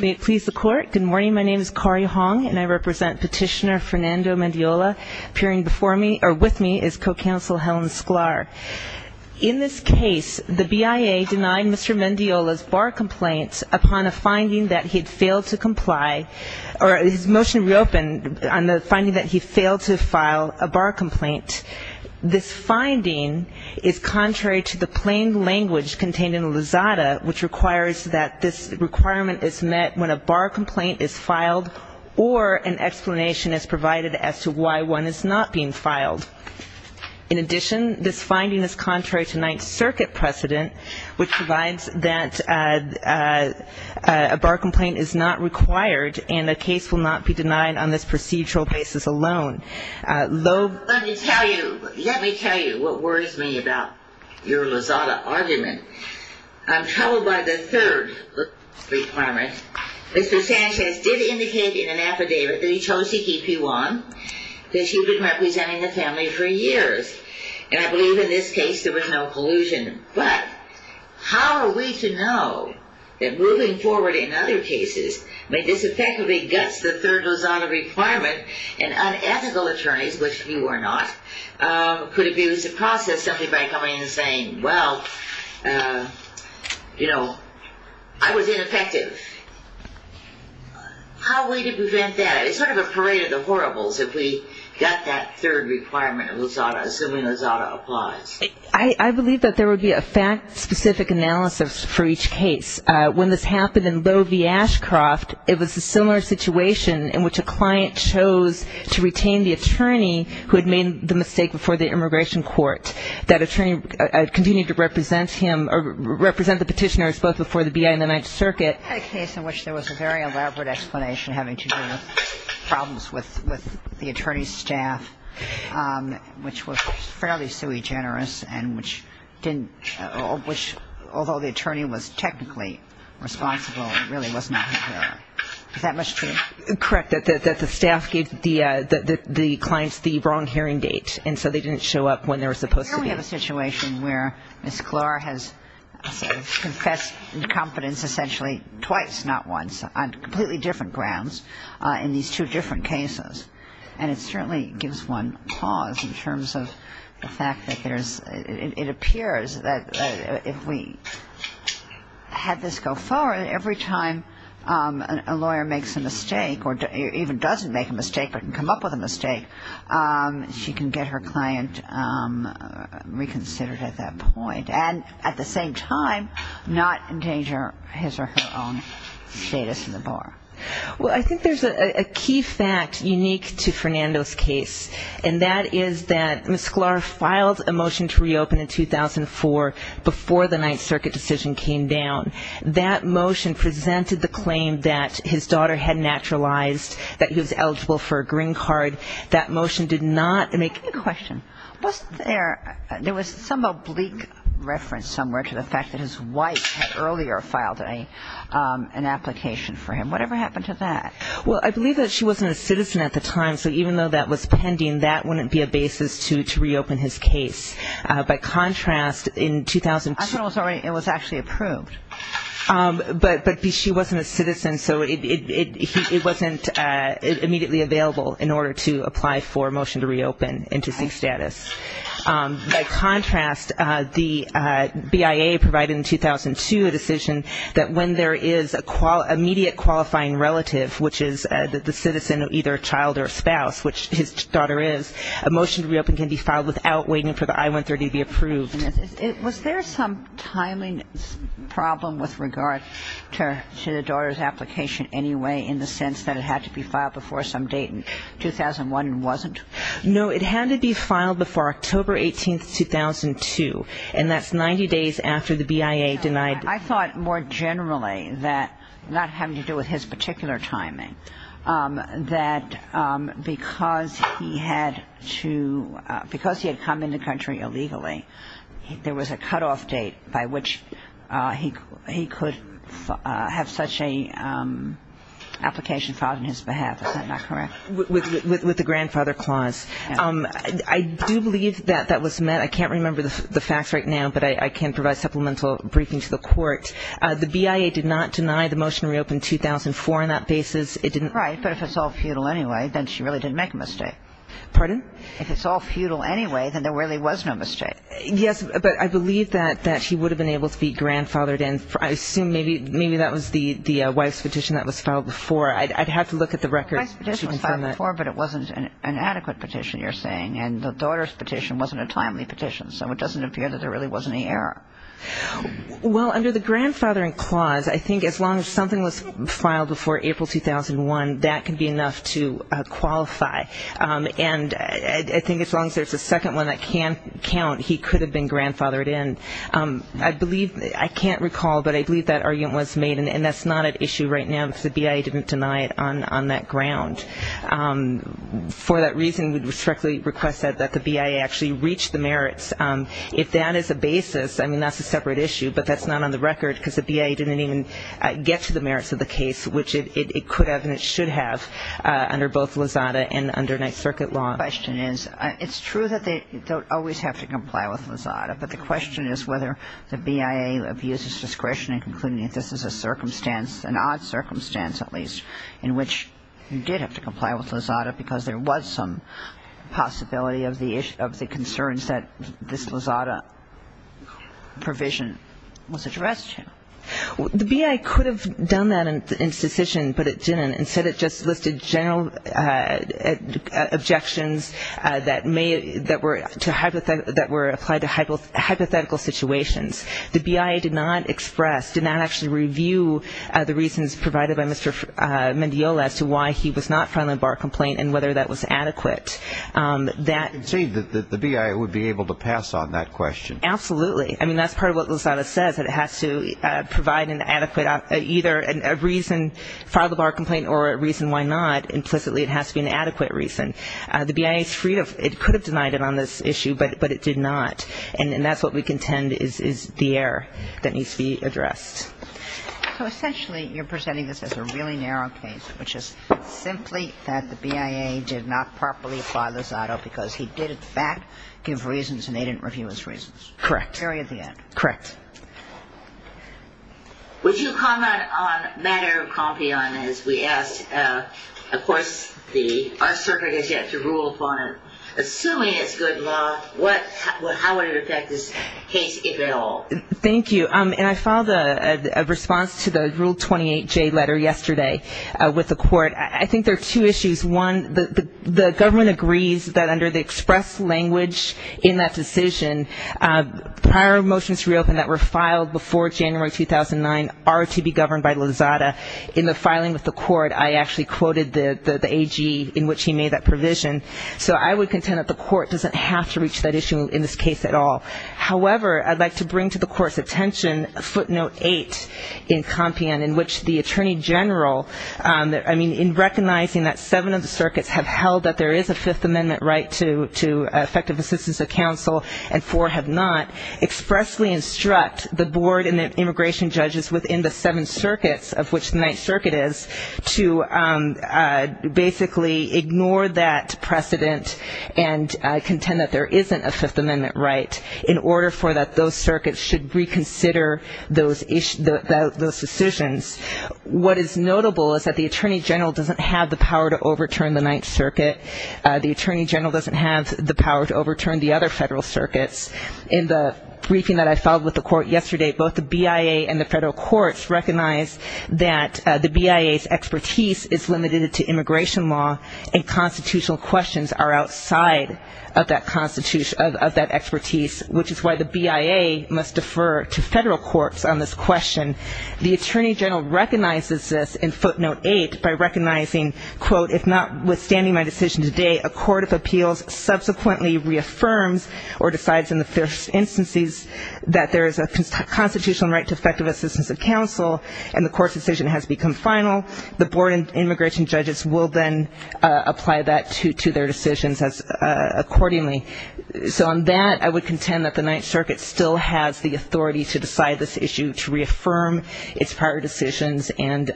May it please the court, good morning, my name is Kari Hong and I represent petitioner Fernando Mendiola. Appearing before me, or with me, is co-counsel Helen Sklar. In this case, the BIA denied Mr. Mendiola's bar complaint upon a finding that he had failed to comply, or his motion reopened on the finding that he failed to file a bar complaint. This finding is contrary to the plain language contained in the Lizada, which requires that this requirement is met when a bar complaint is filed, or an explanation is provided as to why one is not being filed. In addition, this finding is contrary to Ninth Circuit precedent, which provides that a bar complaint is not required and a case will not be denied on this procedural basis alone. Let me tell you what worries me about your Lizada argument. I'm troubled by the third requirement. Mr. Sanchez did indicate in an affidavit that he chose to keep you on, that you've been representing the family for years. And I believe in this case there was no collusion. But, how are we to know that moving forward in other cases may disaffectively guts the third Lizada requirement, and unethical attorneys, which you are not, could abuse the process simply by coming in and saying, well, you know, I was ineffective. How are we to prevent that? It's sort of a parade of the horribles if we gut that third requirement of Lizada, assuming Lizada applies. I believe that there would be a fact-specific analysis for each case. When this happened in Loewe v. Ashcroft, it was a similar situation in which a client chose to retain the attorney who had made the mistake before the immigration court. That attorney continued to represent him, or represent the petitioners both before the B.I. and the Ninth Circuit. I had a case in which there was a very elaborate explanation having to do with problems with the attorney's staff, which was fairly sui generis, and which didn't, which, although the attorney was technically responsible, it really was not. Is that much true? Correct, that the staff gave the clients the wrong hearing date, and so they didn't show up when they were supposed to be. Here we have a situation where Ms. Klor has confessed incompetence essentially twice, not once, on completely different grounds in these two different cases. And it certainly gives one pause in terms of the fact that there's, it appears that if we had this go forward, every time a lawyer makes a mistake or even doesn't make a mistake but can come up with a mistake, she can get her client reconsidered at that point, and at the same time not endanger his or her own status in the bar. Well, I think there's a key fact unique to Fernando's case, and that is that Ms. Klor filed a motion to reopen in 2004 before the Ninth Circuit decision came down. That motion presented the claim that his daughter had naturalized, that he was eligible for a green card. That motion did not make it. Give me a question. Was there, there was some oblique reference somewhere to the fact that his wife had earlier filed an application for him. Whatever happened to that? Well, I believe that she wasn't a citizen at the time, so even though that was pending, that wouldn't be a basis to reopen his case. By contrast, in 2002. I thought it was actually approved. But she wasn't a citizen, so it wasn't immediately available in order to apply for a motion to reopen and to seek status. By contrast, the BIA provided in 2002 a decision that when there is an immediate qualifying relative, which is the citizen, either a child or a spouse, which his daughter is, a motion to reopen can be filed without waiting for the I-130 to be approved. Was there some timing problem with regard to the daughter's application anyway, in the sense that it had to be filed before some date in 2001 and wasn't? No, it had to be filed before October 18, 2002, and that's 90 days after the BIA denied. I thought more generally that, not having to do with his particular timing, that because he had come into the country illegally, there was a cutoff date by which he could have such an application filed on his behalf. Is that not correct? With the grandfather clause. I do believe that that was met. I can't remember the facts right now, but I can provide supplemental briefing to the court. The BIA did not deny the motion to reopen in 2004 on that basis. Right, but if it's all futile anyway, then she really didn't make a mistake. Pardon? If it's all futile anyway, then there really was no mistake. Yes, but I believe that he would have been able to be grandfathered in. I assume maybe that was the wife's petition that was filed before. I'd have to look at the records to confirm that. The wife's petition was filed before, but it wasn't an adequate petition, you're saying, and the daughter's petition wasn't a timely petition, so it doesn't appear that there really was any error. Well, under the grandfathering clause, I think as long as something was filed before April 2001, that can be enough to qualify. And I think as long as there's a second one that can count, he could have been grandfathered in. I believe, I can't recall, but I believe that argument was made, and that's not at issue right now because the BIA didn't deny it on that ground. For that reason, we respectfully request that the BIA actually reach the merits. If that is the basis, I mean, that's a separate issue, but that's not on the record because the BIA didn't even get to the merits of the case, which it could have and it should have under both Lozada and under Ninth Circuit law. My question is, it's true that they don't always have to comply with Lozada, but the question is whether the BIA abuses discretion in concluding that this is a circumstance, an odd circumstance at least, in which you did have to comply with Lozada because there was some possibility of the concerns that this Lozada provision was addressed to. The BIA could have done that in its decision, but it didn't. Instead, it just listed general objections that were applied to hypothetical situations. The BIA did not express, did not actually review the reasons provided by Mr. Mendiola as to why he was not filing a bar complaint and whether that was adequate. You concede that the BIA would be able to pass on that question. Absolutely. I mean, that's part of what Lozada says, that it has to provide an adequate, either a reason to file the bar complaint or a reason why not. Implicitly, it has to be an adequate reason. The BIA is free to, it could have denied it on this issue, but it did not. And that's what we contend is the error that needs to be addressed. So essentially, you're presenting this as a really narrow case, which is simply that the BIA did not properly apply Lozada because he did, in fact, give reasons and they didn't review his reasons. Correct. Very at the end. Correct. Would you comment on the matter of Compion, as we asked? Of course, our circuit has yet to rule upon it. Assuming it's good law, how would it affect this case if at all? Thank you. And I filed a response to the Rule 28J letter yesterday with the court. I think there are two issues. One, the government agrees that under the express language in that decision, prior motions reopened that were filed before January 2009 are to be governed by Lozada. In the filing with the court, I actually quoted the AG in which he made that provision. So I would contend that the court doesn't have to reach that issue in this case at all. However, I'd like to bring to the court's attention footnote 8 in Compion, in which the Attorney General, I mean, in recognizing that seven of the circuits have held that there is a Fifth Amendment right to effective assistance of counsel and four have not, expressly instruct the board and the immigration judges within the seven circuits, of which the Ninth Circuit is, to basically ignore that precedent and contend that there isn't a Fifth Amendment right in order for those circuits to reconsider those decisions. What is notable is that the Attorney General doesn't have the power to overturn the Ninth Circuit. The Attorney General doesn't have the power to overturn the other federal circuits. In the briefing that I filed with the court yesterday, both the BIA and the federal courts recognized that the BIA's expertise is limited to immigration law and constitutional questions are outside of that expertise, which is why the BIA must defer to federal courts on this question. The Attorney General recognizes this in footnote 8 by recognizing, quote, if notwithstanding my decision today, a court of appeals subsequently reaffirms or decides in the first instances that there is a constitutional right to effective assistance of counsel and the court's decision has become final, the board and immigration judges will then apply that to their decisions accordingly. So on that, I would contend that the Ninth Circuit still has the authority to decide this issue, to reaffirm its prior decisions and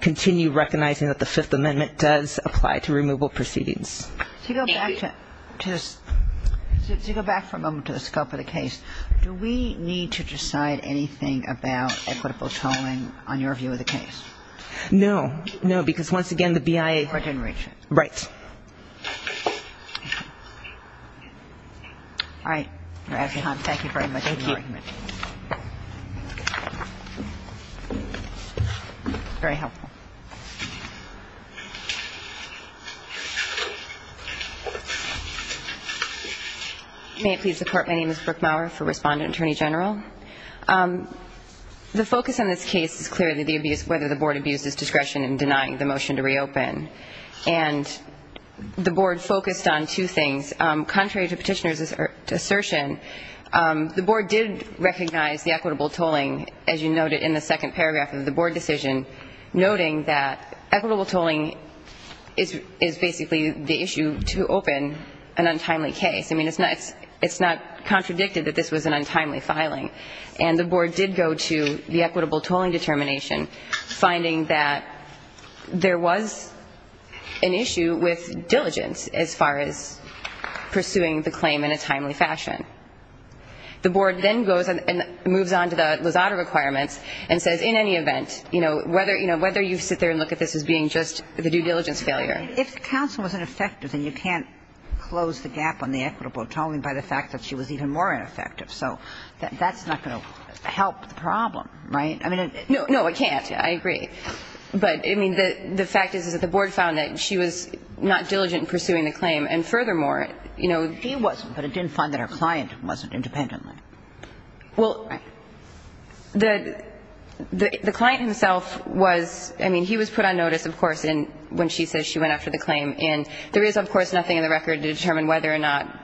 continue recognizing that the Fifth Amendment does apply to removal proceedings. Thank you. To go back for a moment to the scope of the case, do we need to decide anything about equitable tolling on your view of the case? No. No, because once again, the BIA — Or it didn't reach it. Right. All right. Thank you very much for the argument. Thank you. Very helpful. May it please the Court, my name is Brooke Maurer, for Respondent Attorney General. The focus on this case is clearly the abuse, whether the board abuses discretion in denying the motion to reopen. And the board focused on two things. Contrary to Petitioner's assertion, the board did recognize the equitable tolling, as you noted in the second paragraph of the board decision, noting that equitable tolling is basically the issue to open an untimely case. I mean, it's not contradicted that this was an untimely filing. And the board did go to the equitable tolling determination, finding that there was an issue with diligence as far as pursuing the claim in a timely fashion. The board then goes and moves on to the Lozada requirements and says in any event, you know, whether you sit there and look at this as being just the due diligence failure. If the counsel was ineffective, then you can't close the gap on the equitable tolling by the fact that she was even more ineffective. So that's not going to help the problem, right? No, I can't. I agree. But, I mean, the fact is that the board found that she was not diligent in pursuing the claim. And furthermore, you know, He wasn't, but it didn't find that her client wasn't independently. Well, the client himself was, I mean, he was put on notice, of course, when she says she went after the claim. And there is, of course, nothing in the record to determine whether or not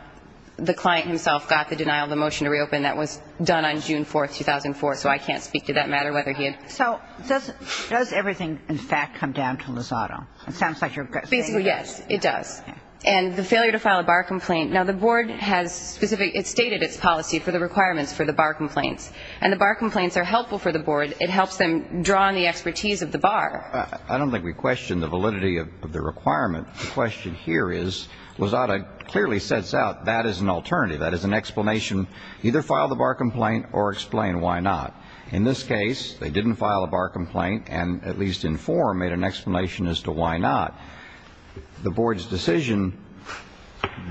the client himself got the denial of the motion to reopen. That was done on June 4th, 2004. So I can't speak to that matter whether he had. So does everything, in fact, come down to Lozada? It sounds like you're saying that. Basically, yes, it does. And the failure to file a bar complaint. Now, the board has specifically stated its policy for the requirements for the bar complaints. And the bar complaints are helpful for the board. It helps them draw on the expertise of the bar. I don't think we question the validity of the requirement. The question here is Lozada clearly sets out that is an alternative. That is an explanation, either file the bar complaint or explain why not. In this case, they didn't file a bar complaint and, at least in form, made an explanation as to why not. The board's decision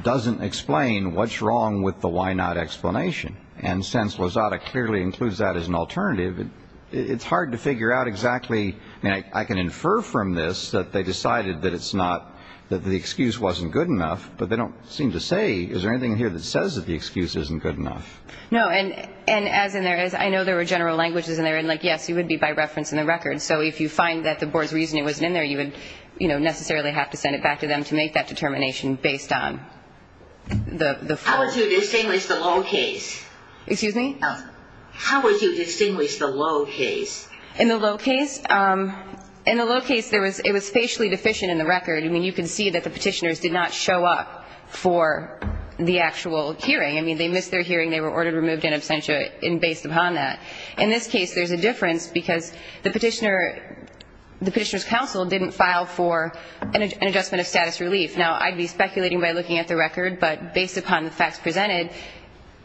doesn't explain what's wrong with the why not explanation. And since Lozada clearly includes that as an alternative, it's hard to figure out exactly. I mean, I can infer from this that they decided that it's not, that the excuse wasn't good enough. But they don't seem to say, is there anything here that says that the excuse isn't good enough? No, and as in there is, I know there were general languages in there. And, like, yes, it would be by reference in the record. So if you find that the board's reasoning wasn't in there, you would, you know, necessarily have to send it back to them to make that determination based on the form. How would you distinguish the low case? Excuse me? How would you distinguish the low case? In the low case, it was facially deficient in the record. I mean, you can see that the Petitioners did not show up for the actual hearing. I mean, they missed their hearing. They were ordered, removed in absentia based upon that. In this case, there's a difference because the Petitioner's counsel didn't file for an adjustment of status relief. Now, I'd be speculating by looking at the record. But based upon the facts presented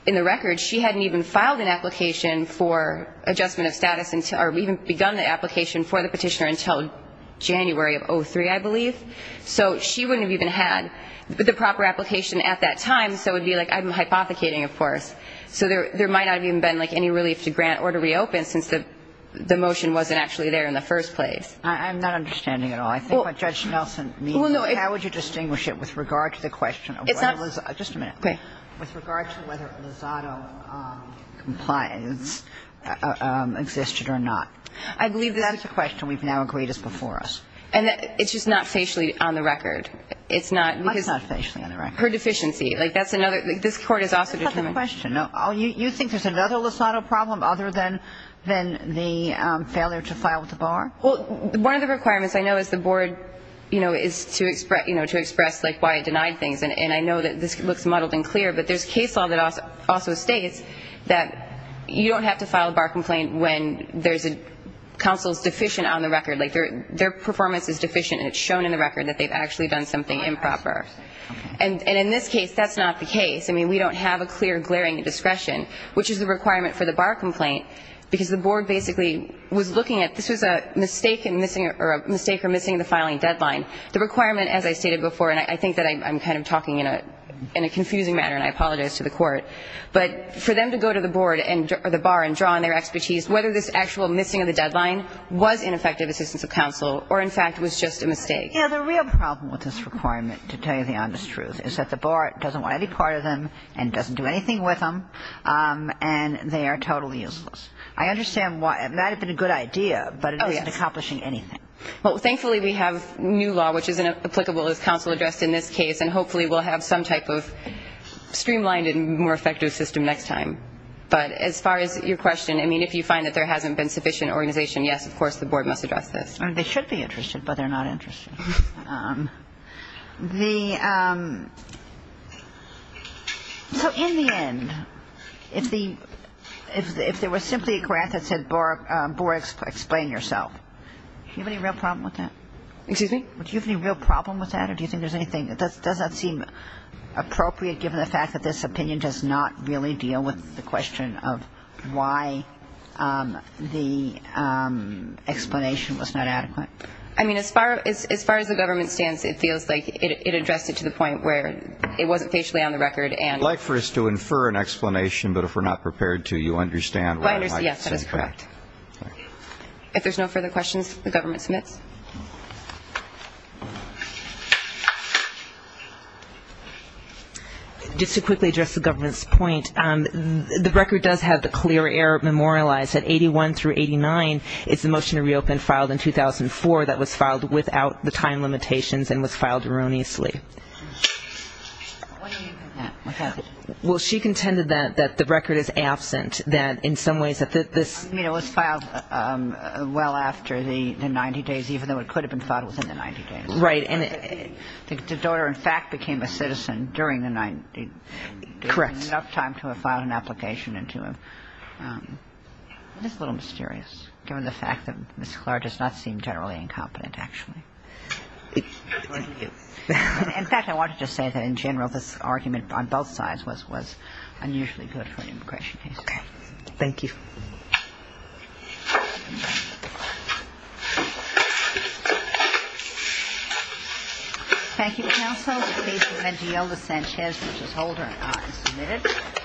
in the record, she hadn't even filed an application for adjustment of status or even begun the application for the Petitioner until January of 2003, I believe. So she wouldn't have even had the proper application at that time. So it would be like I'm hypothecating, of course. So there might not have even been, like, any relief to grant or to reopen since the motion wasn't actually there in the first place. I'm not understanding at all. I think what Judge Nelson means is how would you distinguish it with regard to the question of whether Lizado compliance existed or not. I believe that's a question we've now agreed is before us. And it's just not facially on the record. It's not. It's not facially on the record. Per deficiency. Like, that's another. Like, this Court has also determined. That's not the question. No. You think there's another Lizado problem other than the failure to file the bar? Well, one of the requirements I know is the Board, you know, is to express, you know, to express, like, why it denied things. And I know that this looks muddled and clear, but there's case law that also states that you don't have to file a bar complaint when there's a counsel's deficient on the record. Like, their performance is deficient and it's shown in the record that they've actually done something improper. And in this case, that's not the case. I mean, we don't have a clear glaring discretion, which is the requirement for the bar complaint, because the Board basically was looking at this was a mistake or missing the filing deadline. The requirement, as I stated before, and I think that I'm kind of talking in a confusing manner, and I apologize to the Court, but for them to go to the Board or the bar and draw on their expertise, whether this actual missing of the deadline was ineffective assistance of counsel or, in fact, was just a mistake. You know, the real problem with this requirement, to tell you the honest truth, is that the bar doesn't want any part of them and doesn't do anything with them, and they are totally useless. I understand why. It might have been a good idea, but it isn't accomplishing anything. Well, thankfully, we have new law, which is applicable as counsel addressed in this case, and hopefully we'll have some type of streamlined and more effective system next time. But as far as your question, I mean, if you find that there hasn't been sufficient organization, yes, of course, the Board must address this. They should be interested, but they're not interested. So in the end, if there was simply a grant that said, Bora, explain yourself, do you have any real problem with that? Excuse me? Do you have any real problem with that, or do you think there's anything? Does that seem appropriate given the fact that this opinion does not really deal with the question of why the explanation was not adequate? I mean, as far as the government stands, it feels like it addressed it to the point where it wasn't facially on the record. I'd like for us to infer an explanation, but if we're not prepared to, you understand. Yes, that is correct. If there's no further questions, the government submits. Just to quickly address the government's point, the record does have the clear error memorialized at 81 through 89 is the motion to reopen filed in 2004 that was filed without the time limitations and was filed erroneously. Well, she contended that the record is absent, that in some ways that this. I mean, it was filed well after the 90 days, even though it could have been filed within the 90 days. Right. And the daughter, in fact, became a citizen during the 90. Correct. I don't know if there's enough time to have filed an application and to have this little mysterious, given the fact that Ms. Clark does not seem generally incompetent, actually. In fact, I wanted to say that, in general, this argument on both sides was unusually good for an immigration case. Thank you. Thank you. Thank you.